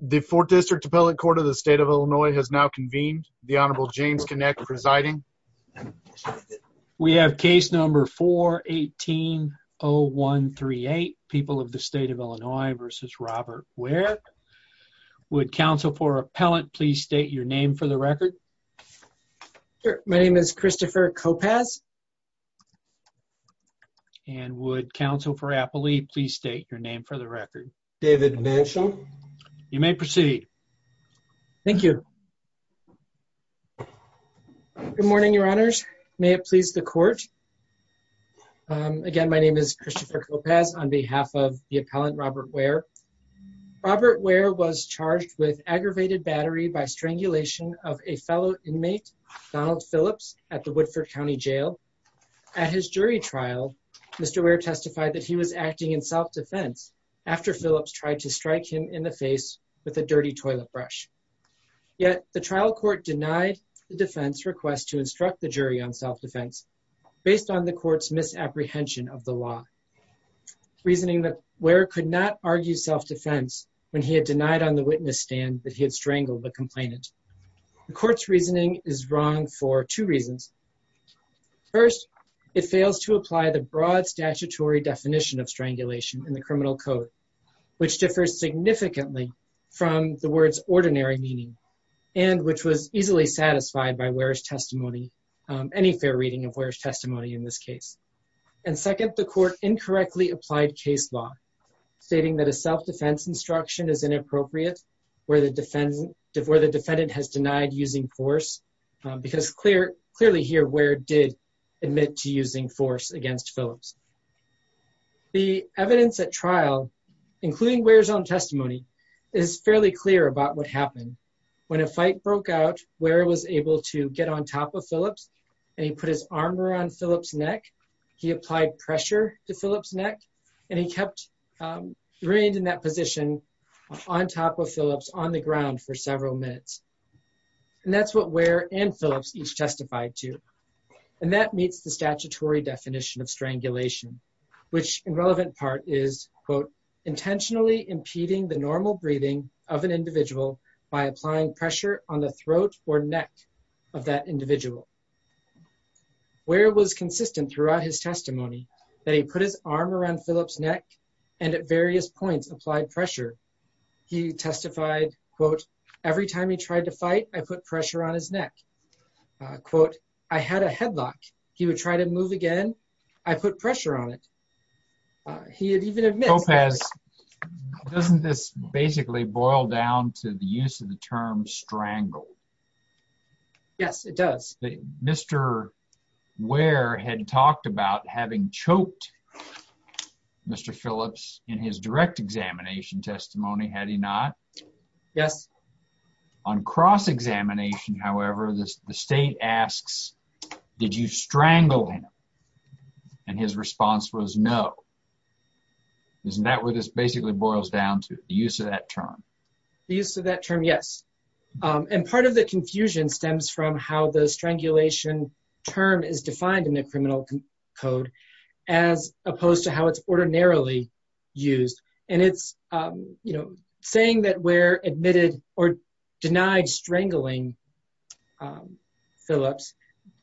The 4th District Appellate Court of the State of Illinois has now convened. The Honorable James Kinect presiding. We have case number 418-0138, People of the State of Illinois v. Robert Ware. Would counsel for appellant please state your name for the record? My name is Christopher Kopasz. And would counsel for appellee please state your name for the record? David Mansham. You may proceed. Thank you. Good morning, your honors. May it please the court. Again, my name is Christopher Kopasz on behalf of the appellant, Robert Ware. Robert Ware was charged with aggravated battery by strangulation of a fellow inmate, Donald Phillips, at the Woodford County Jail. At his jury trial, Mr. Ware testified that he was acting in self-defense after Phillips tried to strike him in the face with a dirty toilet brush. Yet the trial court denied the defense request to instruct the jury on self-defense based on the court's misapprehension of the law. Reasoning that Ware could not argue self-defense when he had denied on the witness stand that he had strangled the complainant. The court's reasoning is wrong for two reasons. First, it fails to apply the broad statutory definition of strangulation in the criminal code, which differs significantly from the word's ordinary meaning, and which was easily satisfied by Ware's testimony. Any fair reading of Ware's testimony in this case. And second, the court incorrectly applied case law, stating that a self-defense instruction is inappropriate where the defendant has denied using force. Because clearly here, Ware did admit to using force against Phillips. The evidence at trial, including Ware's own testimony, is fairly clear about what happened. When a fight broke out, Ware was able to get on top of Phillips, and he put his arm around Phillips' neck. He applied pressure to Phillips' neck, and he kept, remained in that position on top of Phillips on the ground for several minutes. And that's what Ware and Phillips each testified to. And that meets the statutory definition of strangulation, which in relevant part is, quote, intentionally impeding the normal breathing of an individual by applying pressure on the throat or neck of that individual. Ware was consistent throughout his testimony that he put his arm around Phillips' neck and at various points applied pressure. He testified, quote, every time he tried to fight, I put pressure on his neck. Quote, I had a headlock. He would try to move again. I put pressure on it. He had even admitted- Mr. Lopez, doesn't this basically boil down to the use of the term strangle? Yes, it does. Mr. Ware had talked about having choked Mr. Phillips in his direct examination testimony, had he not? Yes. On cross-examination, however, the state asks, did you strangle him? And his response was no. Isn't that what this basically boils down to, the use of that term? The use of that term, yes. And part of the confusion stems from how the strangulation term is defined in the criminal code as opposed to how it's ordinarily used. And it's saying that Ware admitted or denied strangling Phillips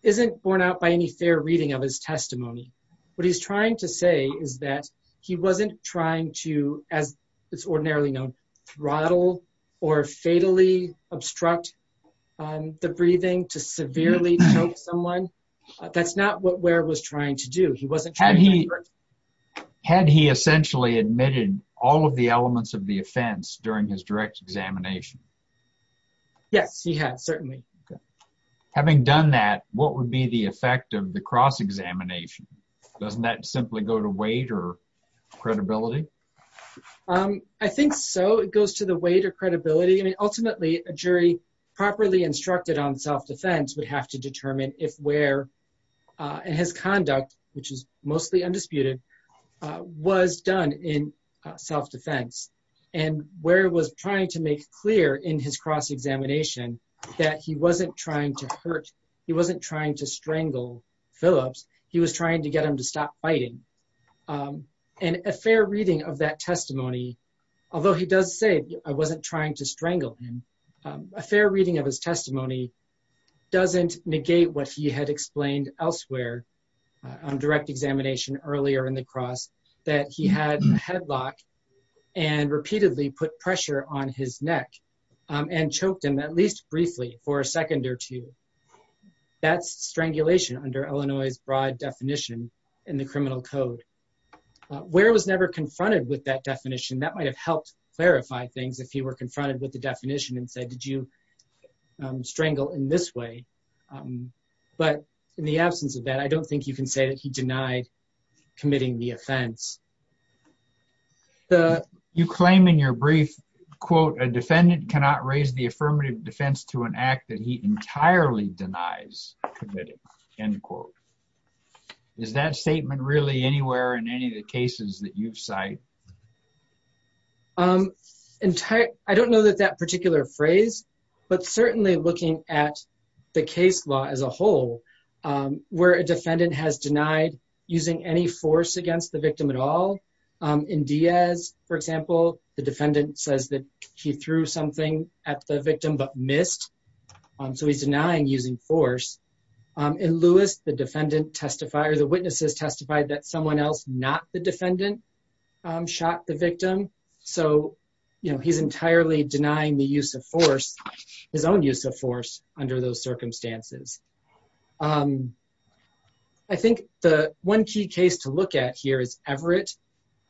isn't borne out by any fair reading of his testimony. What he's trying to say is that he wasn't trying to, as it's ordinarily known, throttle or fatally obstruct the breathing to severely choke someone. That's not what Ware was trying to do. He wasn't trying to- Had he essentially admitted all of the elements of the offense during his direct examination? Yes, he had, certainly. Having done that, what would be the effect of the cross-examination? Doesn't that simply go to weight or credibility? I think so, it goes to the weight or credibility. I mean, ultimately, a jury properly instructed on self-defense would have to was done in self-defense. And Ware was trying to make clear in his cross-examination that he wasn't trying to hurt, he wasn't trying to strangle Phillips. He was trying to get him to stop biting. And a fair reading of that testimony, although he does say, I wasn't trying to strangle him. A fair reading of his testimony doesn't negate what he had explained elsewhere on direct examination earlier in the cross, that he had a headlock and repeatedly put pressure on his neck and choked him at least briefly for a second or two. That's strangulation under Illinois' broad definition in the criminal code. Ware was never confronted with that definition. That might have helped clarify things if he were confronted with the definition and said, did you strangle in this way? But in the absence of that, I don't think you can say that he denied committing the offense. You claim in your brief, quote, a defendant cannot raise the affirmative defense to an act that he entirely denies committing, end quote. Is that statement really anywhere in any of the cases that you've cited? I don't know that that particular phrase, but certainly looking at the case law as a whole, where a defendant has denied using any force against the victim at all. In Diaz, for example, the defendant says that he threw something at the victim but missed, so he's denying using force. In Lewis, the witnesses testified that someone else, not the defendant, shot the victim. So he's entirely denying the use of force. His own use of force under those circumstances. I think the one key case to look at here is Everett,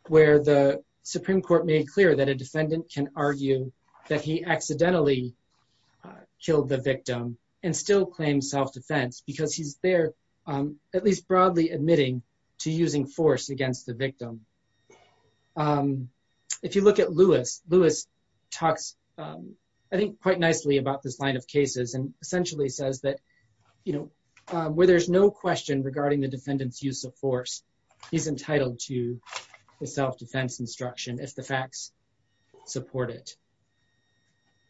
where the Supreme Court made clear that a defendant can argue that he accidentally killed the victim and still claims self-defense. Because he's there, at least broadly, admitting to using force against the victim. If you look at Lewis, Lewis talks, I think, quite nicely about this line of cases. And essentially says that, where there's no question regarding the defendant's use of force, he's entitled to the self-defense instruction if the facts support it.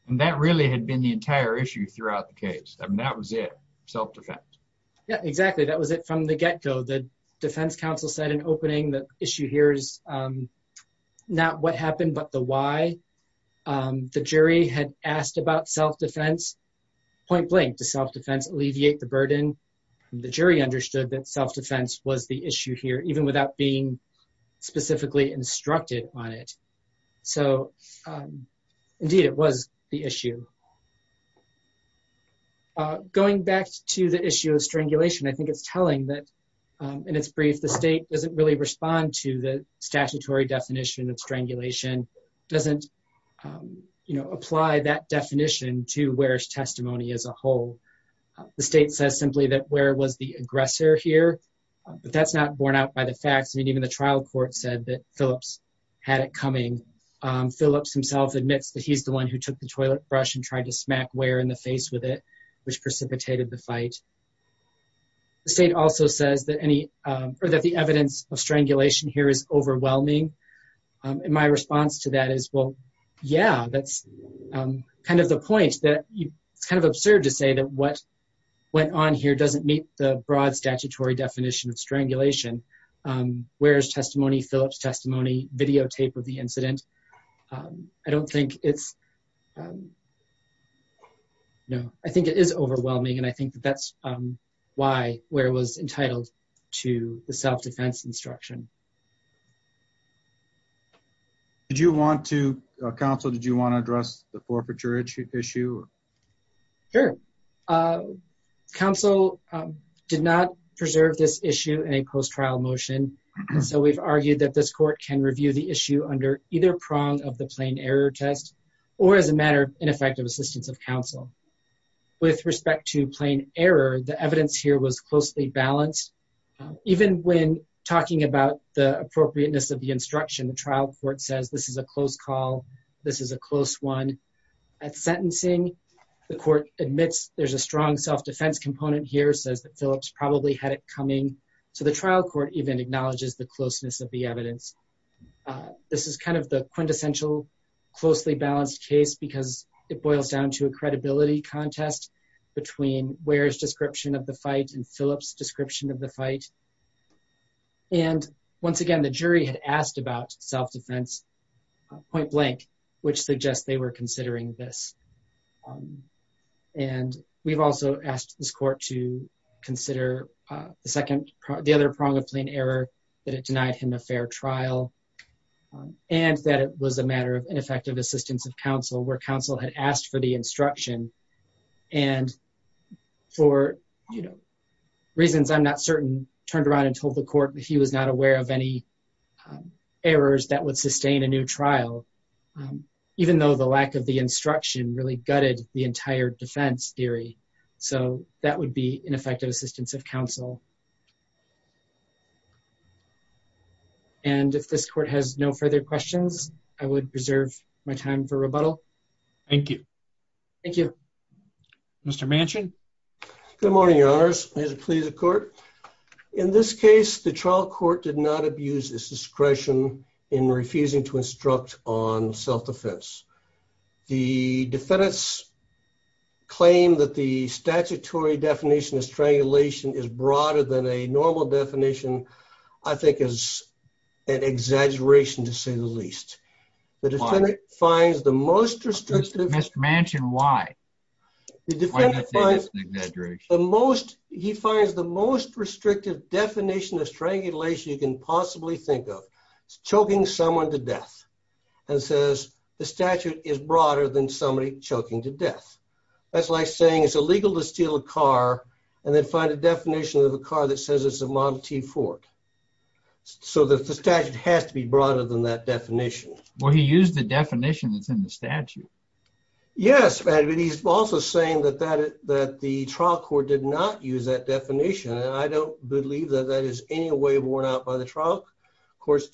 And that really had been the entire issue throughout the case. I mean, that was it, self-defense. Yeah, exactly, that was it from the get-go. The defense counsel said in opening, the issue here is not what happened, but the why. The jury had asked about self-defense, point blank, does self-defense alleviate the burden? The jury understood that self-defense was the issue here, even without being specifically instructed on it. So, indeed, it was the issue. Going back to the issue of strangulation, I think it's telling that, in its brief, the state doesn't really respond to the statutory definition of strangulation. It doesn't apply that definition to Ware's testimony as a whole. The state says simply that Ware was the aggressor here, but that's not borne out by the facts. I mean, even the trial court said that Phillips had it coming. Phillips himself admits that he's the one who took the toilet brush and drank the water. He tried to smack Ware in the face with it, which precipitated the fight. The state also says that the evidence of strangulation here is overwhelming. And my response to that is, well, yeah, that's kind of the point, that it's kind of absurd to say that what went on here doesn't meet the broad statutory definition of strangulation. Ware's testimony, Phillips' testimony, videotape of the incident, I don't think it's, no, I think it is overwhelming, and I think that that's why Ware was entitled to the self-defense instruction. Did you want to, counsel, did you want to address the forfeiture issue? Sure. Counsel did not preserve this issue in a close trial motion, so we've argued that this court can review the issue under either prong of the plain error test or as a matter of ineffective assistance of counsel. With respect to plain error, the evidence here was closely balanced. Even when talking about the appropriateness of the instruction, the trial court says this is a close call, this is a close one. At sentencing, the court admits there's a strong self-defense component here, says that Phillips probably had it coming, so the trial court even acknowledges the closeness of the evidence. This is kind of the quintessential closely balanced case because it boils down to a credibility contest between Ware's description of the fight and Phillips' description of the fight. And once again, the jury had asked about self-defense point blank, which suggests they were considering this. And we've also asked this court to consider the second, the other prong of plain error, that it denied him a fair trial and that it was a matter of ineffective assistance of counsel where counsel had asked for the instruction and for, you know, reasons I'm not certain, turned around and told the court that he was not aware of any errors that would sustain a new trial, even though the lack of the instruction really gutted the entire defense theory. So that would be ineffective assistance of counsel. And if this court has no further questions, I would preserve my time for rebuttal. Thank you. Thank you. Mr. Manchin. Good morning, your honors. As it pleases the court, in this case, the trial court did not abuse its discretion in refusing to instruct on self-defense. The defendant's claim that the statutory definition of strangulation is broader than a normal definition, I think is an exaggeration to say the least. The defendant finds the most restrictive- Mr. Manchin, why? The defendant finds the most, he finds the most restrictive definition of strangulation you can possibly think of. Choking someone to death and says the statute is broader than somebody choking to death. That's like saying it's illegal to steal a car and then find a definition of a car that says it's a Model T Ford. So the statute has to be broader than that definition. Well, he used the definition that's in the statute. Yes, but he's also saying that the trial court did not use that definition and I don't believe that that is in any way worn out by the trial. Of course,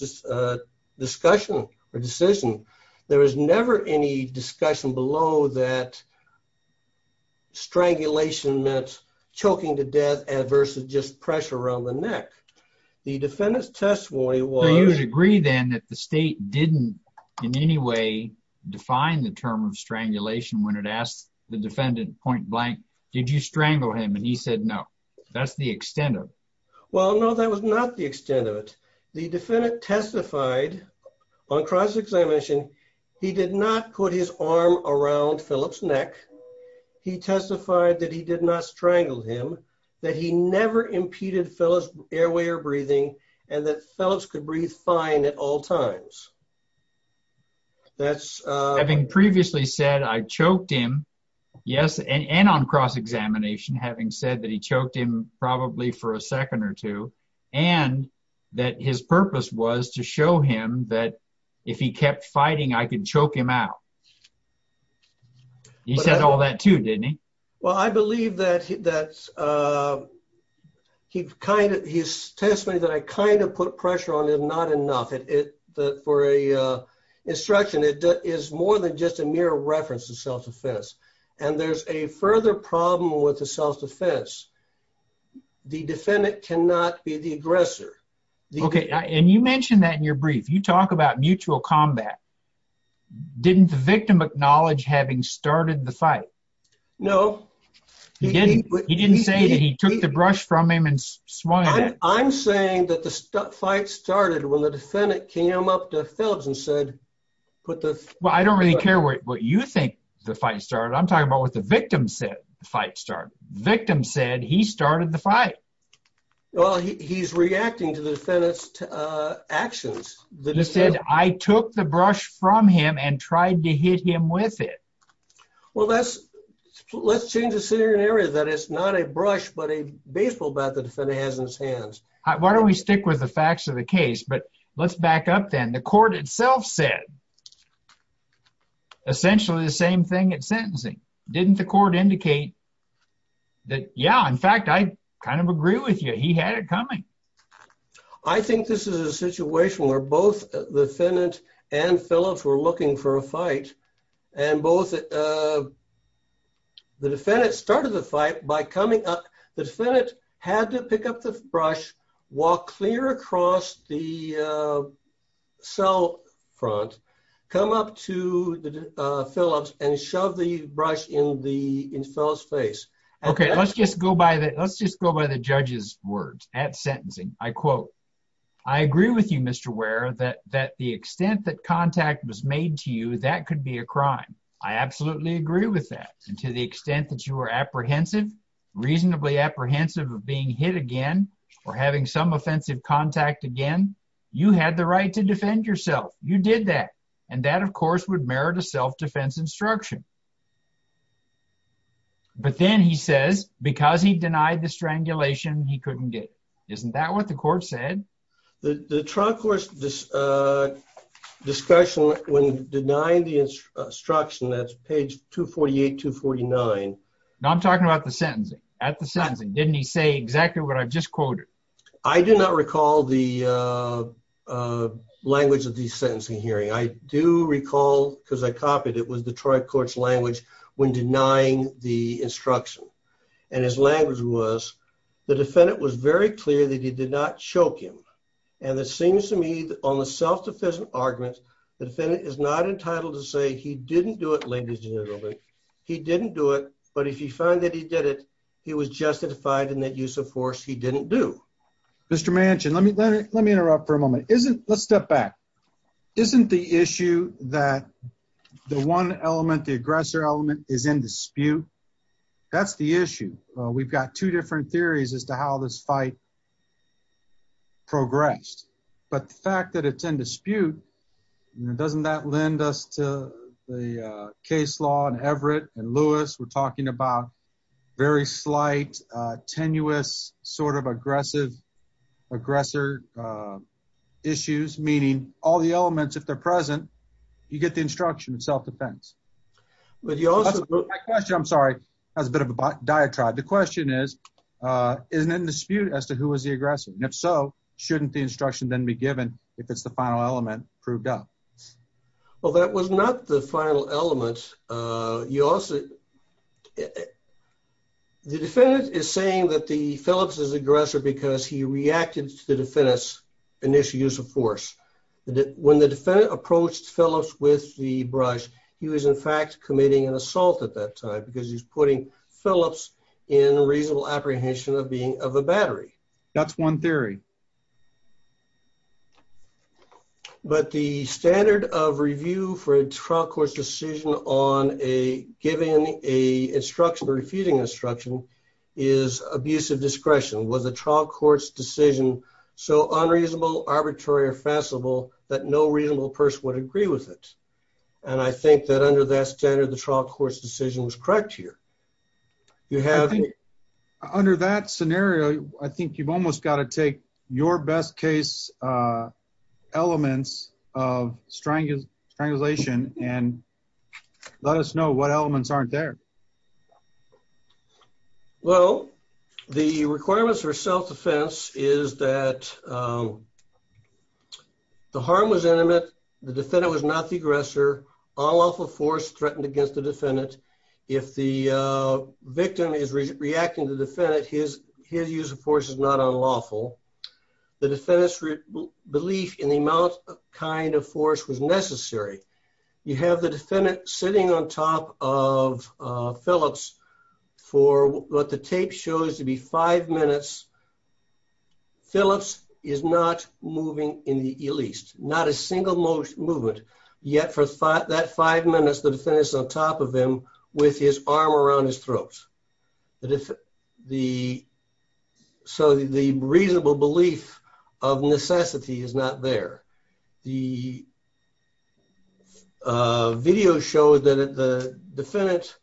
discussion or decision, there was never any discussion below that strangulation meant choking to death versus just pressure around the neck. The defendant's testimony was- I usually agree then that the state didn't in any way define the term of strangulation when it asked the defendant point blank, did you strangle him? And he said, no, that's the extent of it. Well, no, that was not the extent of it. The defendant testified on cross-examination, he did not put his arm around Phillip's neck. He testified that he did not strangle him, that he never impeded Phillip's airway or breathing, and that Phillips could breathe fine at all times. That's- Having previously said I choked him, yes, and on cross-examination, having said that he choked him probably for a second or two, and that his purpose was to show him that if he kept fighting, I could choke him out. He said all that too, didn't he? Well, I believe that his testimony that I kind of put pressure on him, not enough for a instruction, it is more than just a mere reference to self-defense. And there's a further problem with the self-defense. The defendant cannot be the aggressor. Okay, and you mentioned that in your brief, you talk about mutual combat. Didn't the victim acknowledge having started the fight? No. He didn't. He didn't say that he took the brush from him and swung at him. I'm saying that the fight started when the defendant came up to Phillips and said, put the- Well, I don't really care what you think the fight started, I'm talking about what the victim said the fight started. Victim said he started the fight. Well, he's reacting to the defendant's actions. He said, I took the brush from him and tried to hit him with it. Well, let's change the scenario that it's not a brush, but a baseball bat the defendant has in his hands. Why don't we stick with the facts of the case, but let's back up then. The court itself said essentially the same thing at sentencing. Didn't the court indicate that, yeah, in fact, I kind of agree with you. He had it coming. I think this is a situation where both the defendant and Phillips were looking for a fight and both the defendant started the fight by coming up. The defendant had to pick up the brush, walk clear across the cell front, come up to Phillips and shove the brush in Phillips' face. Okay, let's just go by the judge's words at sentencing. I quote, I agree with you, Mr. Ware, that the extent that contact was made to you, that could be a crime. I absolutely agree with that. And to the extent that you were apprehensive, reasonably apprehensive of being hit again, or having some offensive contact again, you had the right to defend yourself. You did that. And that, of course, would merit a self-defense instruction. But then he says, because he denied the strangulation, he couldn't get it. Isn't that what the court said? The trial court's discussion when denying the instruction, that's page 248, 249. Now I'm talking about the sentencing. At the sentencing, didn't he say exactly what I've just quoted? I do not recall the language of the sentencing hearing. I do recall, because I copied, it was the trial court's language when denying the instruction. And his language was, the defendant was very clear that he did not choke him. And it seems to me that on the self-defense argument, the defendant is not entitled to say, he didn't do it, ladies and gentlemen, he didn't do it. But if you find that he did it, he was justified in that use of force he didn't do. Mr. Manchin, let me interrupt for a moment. Isn't, let's step back. Isn't the issue that the one element, the aggressor element is in dispute? That's the issue. We've got two different theories as to how this fight progressed. But the fact that it's in dispute, doesn't that lend us to the case law and Everett and Lewis were talking about very slight, tenuous, sort of aggressive, aggressor issues, meaning all the elements, if they're present, you get the instruction of self-defense. But you also- That question, I'm sorry, has a bit of a diatribe. The question is, isn't it in dispute as to who was the aggressor? And if so, shouldn't the instruction then be given if it's the final element proved up? Well, that was not the final element. You also, the defendant is saying that the Phillips is aggressor because he reacted to the defendant's initial use of force. When the defendant approached Phillips with the brush, he was in fact committing an assault at that time because he's putting Phillips in reasonable apprehension of being of a battery. That's one theory. But the standard of review for a trial court's decision on giving an instruction or refuting instruction is abusive discretion. Was the trial court's decision so unreasonable, arbitrary, or facetable that no reasonable person would agree with it? And I think that under that standard, the trial court's decision was correct here. Under that scenario, I think you've almost got to take your best case elements of strangulation and let us know what elements aren't there. Well, the requirements for self-defense is that the harm was intimate. The defendant was not the aggressor. Unlawful force threatened against the defendant. If the victim is reacting to the defendant, his use of force is not unlawful. The defendant's belief in the amount of kind of force was necessary. You have the defendant sitting on top of Phillips for what the tape shows to be five minutes. Phillips is not moving in the least, not a single movement. Yet for that five minutes, the defendant is on top of him with his arm around his throat. So the reasonable belief of necessity is not there. The video shows that the defendant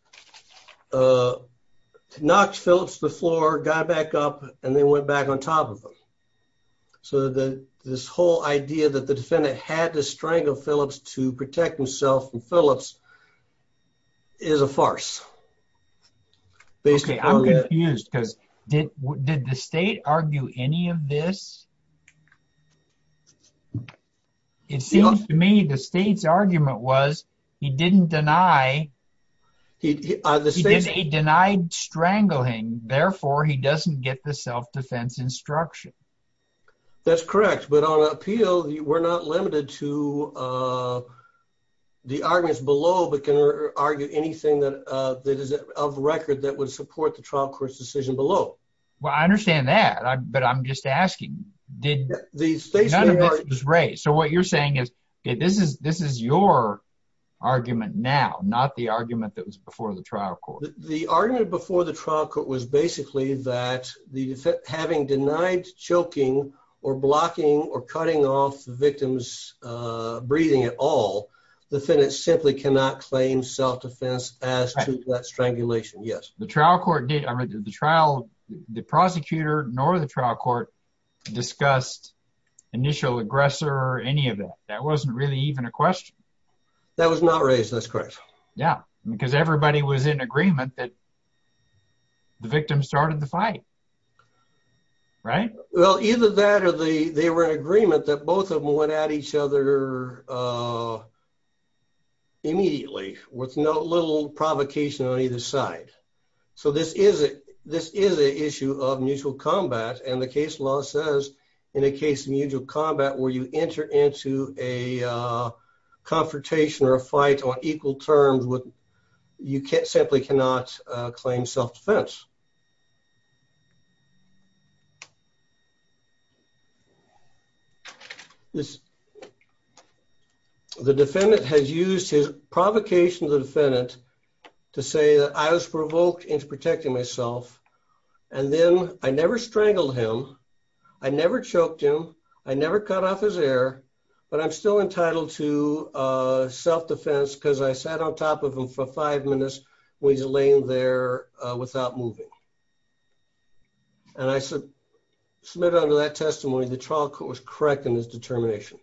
knocked Phillips to the floor, got back up, and then went back on top of him. So this whole idea that the defendant had to strangle Phillips to protect himself from Phillips is a farce. Okay, I'm confused because did the state argue any of this? It seems to me the state's argument was he didn't deny, he denied strangling, therefore he doesn't get the self-defense instruction. That's correct. But on appeal, we're not limited to the arguments below, but can argue anything that is of record that would support the trial court's decision below. Well, I understand that, but I'm just asking, none of this was raised. So what you're saying is, this is your argument now, not the argument that was before the trial court. The argument before the trial court was basically that having denied choking or blocking or cutting off the victim's breathing at all, the defendant simply cannot claim self-defense as to that strangulation. The trial court did, the prosecutor nor the trial court discussed initial aggressor or any of that. That wasn't really even a question. That was not raised, that's correct. Yeah, because everybody was in agreement that the victim started the fight, right? Well, either that or they were in agreement that both of them went at each other immediately with no little provocation on either side. So this is a issue of mutual combat and the case law says, in a case of mutual combat where you enter into a confrontation or a fight on equal terms, you simply cannot claim self-defense. The defendant has used his provocation of the defendant to say that I was provoked into protecting myself and then I never strangled him, I never choked him, I never cut off his air, but I'm still entitled to self-defense because I sat on top of him for five minutes when he's laying there without moving. And I submitted under that testimony, the trial court was correct in his determination.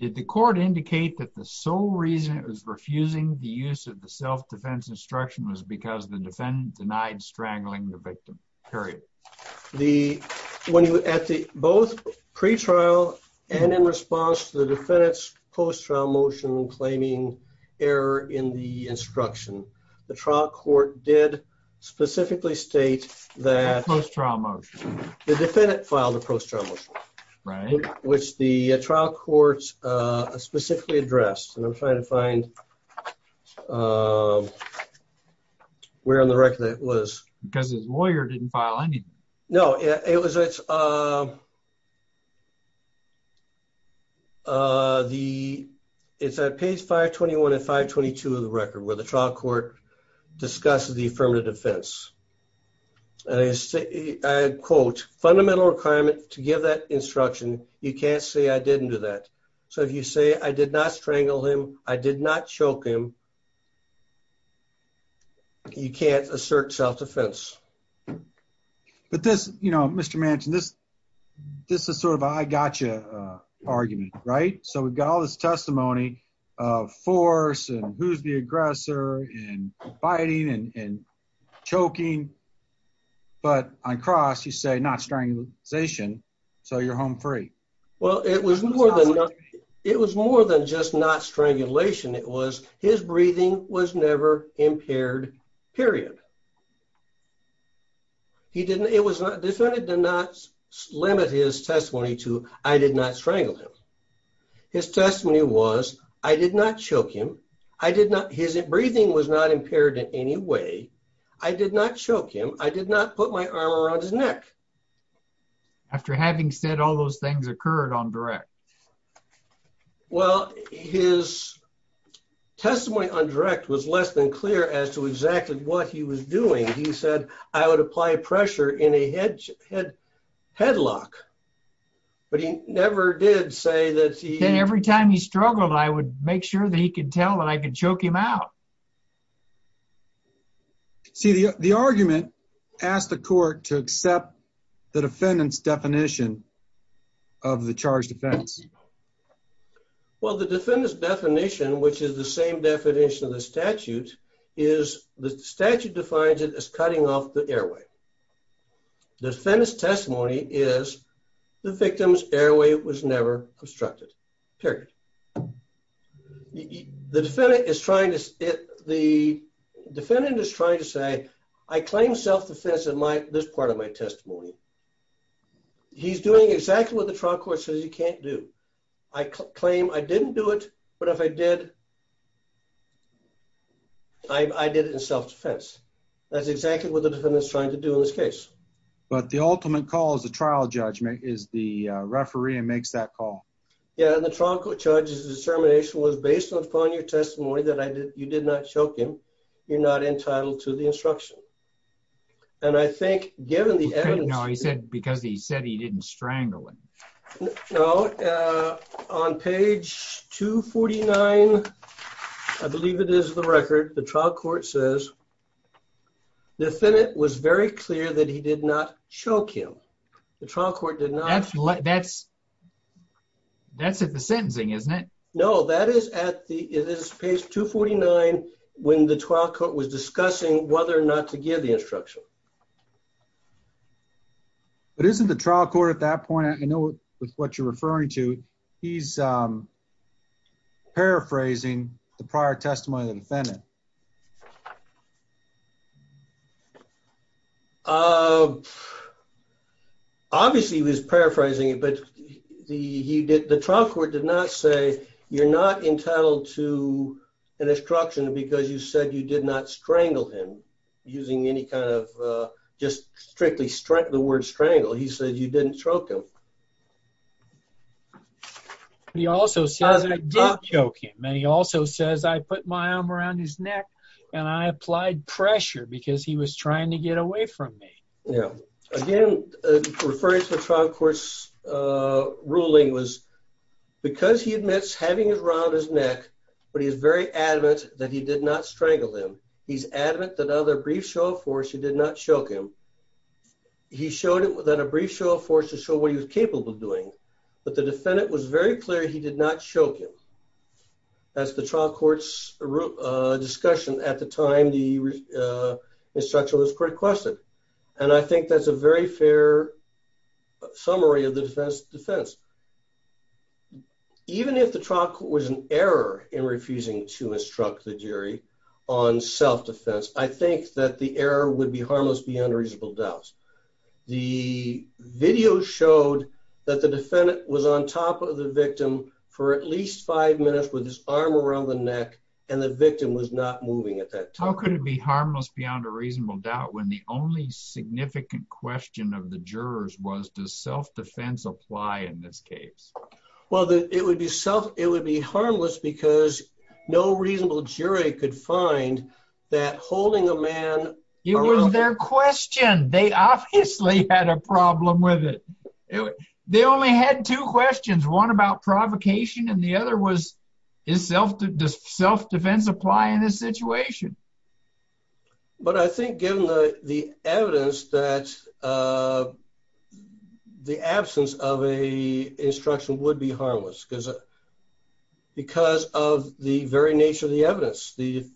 Did the court indicate that the sole reason it was refusing the use of the self-defense instruction was because the defendant denied strangling the victim, period? Both pre-trial and in response to the defendant's post-trial motion claiming error in the instruction, the trial court did specifically state that- Post-trial motion. The defendant filed a post-trial motion. Right. Which the trial court specifically addressed and I'm trying to find where on the record that was. Because his lawyer didn't file any. No, it's at page 521 and 522 of the record where the trial court discusses the affirmative defense. And I quote, fundamental requirement to give that instruction, you can't say I didn't do that. So if you say I did not strangle him, I did not choke him, you can't assert self-defense. But this, you know, Mr. Manchin, this is sort of an I gotcha argument, right? So we've got all this testimony of force and who's the aggressor and fighting and choking. But on cross you say not strangling, so you're home free. Well, it was more than just not strangulation. It was his breathing was never impaired, period. He didn't, it was not, defendant did not limit his testimony to, I did not strangle him. His testimony was, I did not choke him. I did not, his breathing was not impaired in any way. I did not choke him. I did not put my arm around his neck. After having said all those things occurred on direct. Well, his testimony on direct was less than clear as to exactly what he was doing. He said, I would apply pressure in a headlock, but he never did say that he- Every time he struggled, I would make sure that he could tell that I could choke him out. See, the argument asked the court to accept the defendant's definition of the charge defense. Well, the defendant's definition, which is the same definition of the statute, is the statute defines it as cutting off the airway. The defendant's testimony is the victim's airway was never obstructed, period. The defendant is trying to say, I claim self-defense in this part of my testimony. He's doing exactly what the trial court says you can't do. I claim I didn't do it, but if I did, I did it in self-defense. That's exactly what the defendant's trying to do in this case. But the ultimate call is a trial judgment is the referee and makes that call. Yeah, and the trial court judge's determination was based upon your testimony that you did not choke him. You're not entitled to the instruction. And I think given the evidence- Because he said he didn't strangle him. No, on page 249, I believe it is the record, the trial court says the defendant was very clear that he did not choke him. The trial court did not- That's at the sentencing, isn't it? No, that is at the, it is page 249 when the trial court was discussing whether or not to give the instruction. But isn't the trial court at that point, I know with what you're referring to, he's paraphrasing the prior testimony of the defendant. Obviously, he was paraphrasing it, but the trial court did not say, you're not entitled to an instruction because you said you did not strangle him using any kind of just strictly the word strangle. He said you didn't choke him. But he also says I did choke him, and he also says I put my arm around his neck and I applied pressure because he was trying to get away from me. Yeah, again, referring to the trial court's ruling was because he admits having his arm around his neck, but he is very adamant that he did not strangle him. He's adamant that other brief show of force, he did not choke him. He showed that a brief show of force to show what he was capable of doing, but the defendant was very clear he did not choke him. That's the trial court's discussion at the time the instruction was requested. And I think that's a very fair summary of the defense. Even if the trial court was in error in refusing to instruct the jury on self-defense, I think that the error would be harmless beyond a reasonable doubt. The video showed that the defendant was on top of the victim for at least five minutes with his arm around the neck and the victim was not moving at that time. How could it be harmless beyond a reasonable doubt when the only significant question of the jurors was does self-defense apply in this case? Well, it would be harmless because no reasonable jury could find that holding a man- It was their question. They obviously had a problem with it. They only had two questions, one about provocation and the other was does self-defense apply in this situation? But I think given the evidence that the absence of a instruction would be harmless because of the very nature of the evidence, you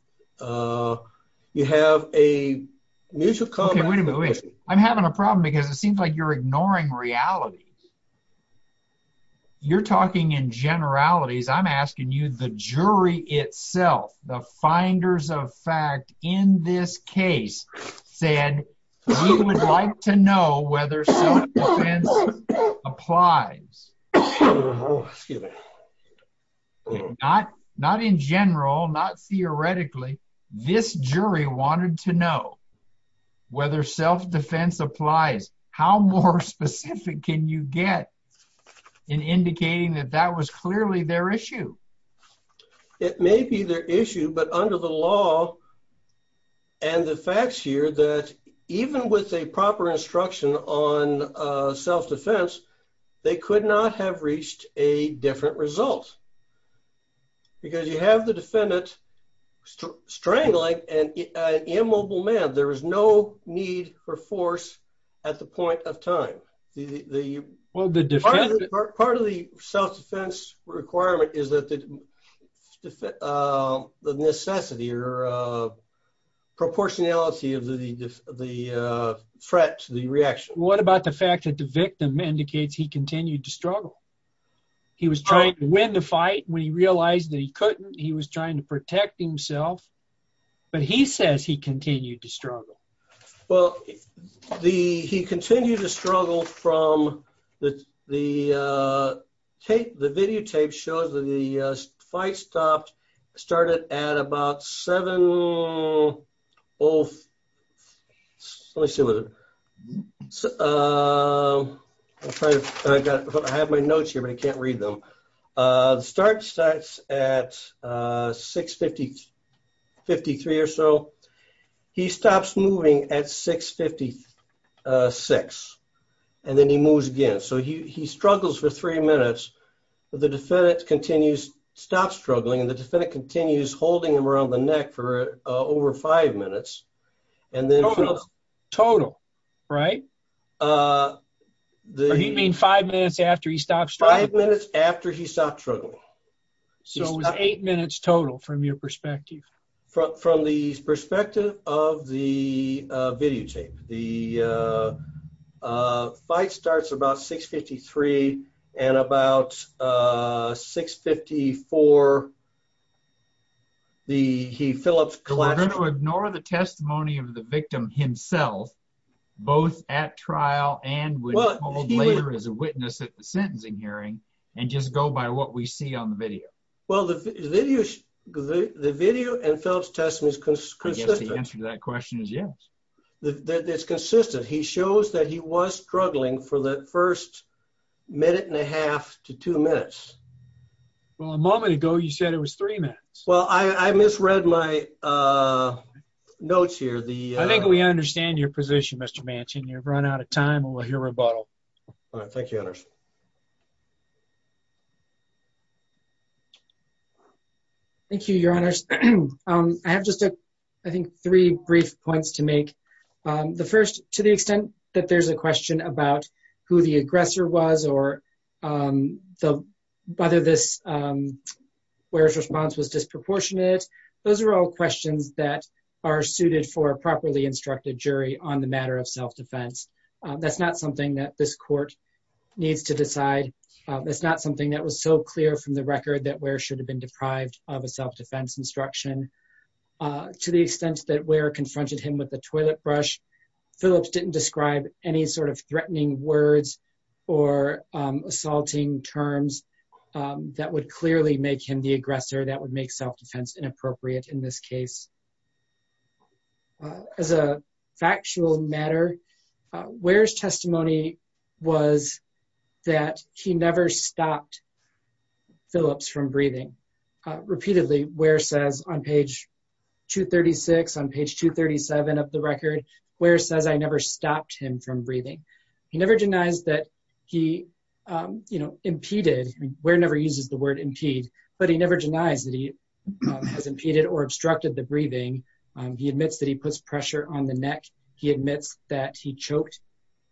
have a mutual- Okay, wait a minute. I'm having a problem because it seems like you're ignoring reality. You're talking in generalities. I'm asking you the jury itself, the finders of fact in this case said you would like to know whether self-defense applies. Oh, excuse me. Not in general, not theoretically, this jury wanted to know whether self-defense applies. How more specific can you get in indicating that that was clearly their issue? It may be their issue, but under the law and the facts here that even with a proper instruction on self-defense, they could not have reached a different result because you have the defendant strangling an immobile man. There was no need for force at the point of time. Part of the self-defense requirement is that the necessity or proportionality of the threat to the reaction. What about the fact that the victim indicates he continued to struggle? He was trying to win the fight when he realized that he couldn't. He was trying to protect himself, but he says he continued to struggle. Well, he continued to struggle from the tape. The video tape shows that the fight stopped, started at about seven... Let me see. I have my notes here, but I can't read them. Starts at 6.53 or so. He stops moving at 6.56, and then he moves again. So he struggles for three minutes, but the defendant continues to stop struggling, and the defendant continues holding him around the neck for over five minutes, and then... Total, right? You mean five minutes after he stopped struggling? Five minutes after he stopped struggling. So it was eight minutes total from your perspective. From the perspective of the video tape, the fight starts about 6.53 and about 6.54. He fills up... We're going to ignore the testimony of the victim himself, both at trial and later as a witness at the sentencing hearing, and just go by what we see on the video. Well, the video and Phillip's testimony is consistent. The answer to that question is yes. It's consistent. He shows that he was struggling for the first minute and a half to two minutes. Well, a moment ago, you said it was three minutes. Well, I misread my notes here. I think we understand your position, Mr. Manchin. You've run out of time, and we'll hear rebuttal. All right. Thank you, Your Honors. Thank you, Your Honors. I have just, I think, three brief points to make. The first, to the extent that there's a question about who the aggressor was or whether Ware's response was disproportionate, those are all questions that are suited for a properly instructed jury on the matter of self-defense. That's not something that this court needs to decide. That's not something that was so clear from the record that Ware should have been deprived of a self-defense instruction. To the extent that Ware confronted him with a toilet brush, Phillips didn't describe any sort of threatening words or assaulting terms that would clearly make him the aggressor that would make self-defense inappropriate in this case. As a factual matter, Ware's testimony was that he never stopped Phillips from breathing. Repeatedly, Ware says on page 236, on page 237 of the record, Ware says, I never stopped him from breathing. He never denies that he impeded, Ware never uses the word impede, but he never denies that he has impeded or obstructed the breathing. He admits that he puts pressure on the neck. He admits that he choked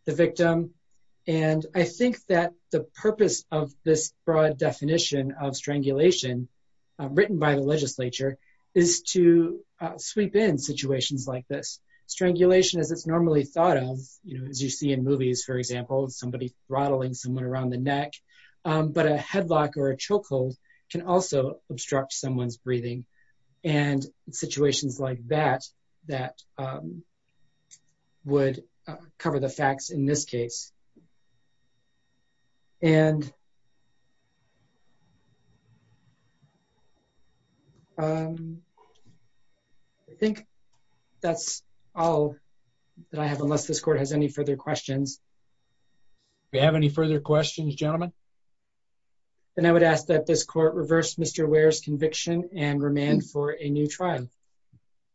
the victim. And I think that the purpose of this broad definition of strangulation written by the legislature is to sweep in situations like this. Strangulation, as it's normally thought of, as you see in movies, for example, somebody throttling someone around the neck, but a headlock or a chokehold can also obstruct someone's breathing. And in situations like that, that would cover the facts in this case. And I think that's all that I have, unless this court has any further questions. Do we have any further questions, gentlemen? And I would ask that this court reverse Mr. Ware's conviction and remand for a new trial.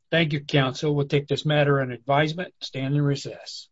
Thank you, counsel. We'll take this matter on advisement. Stand in recess.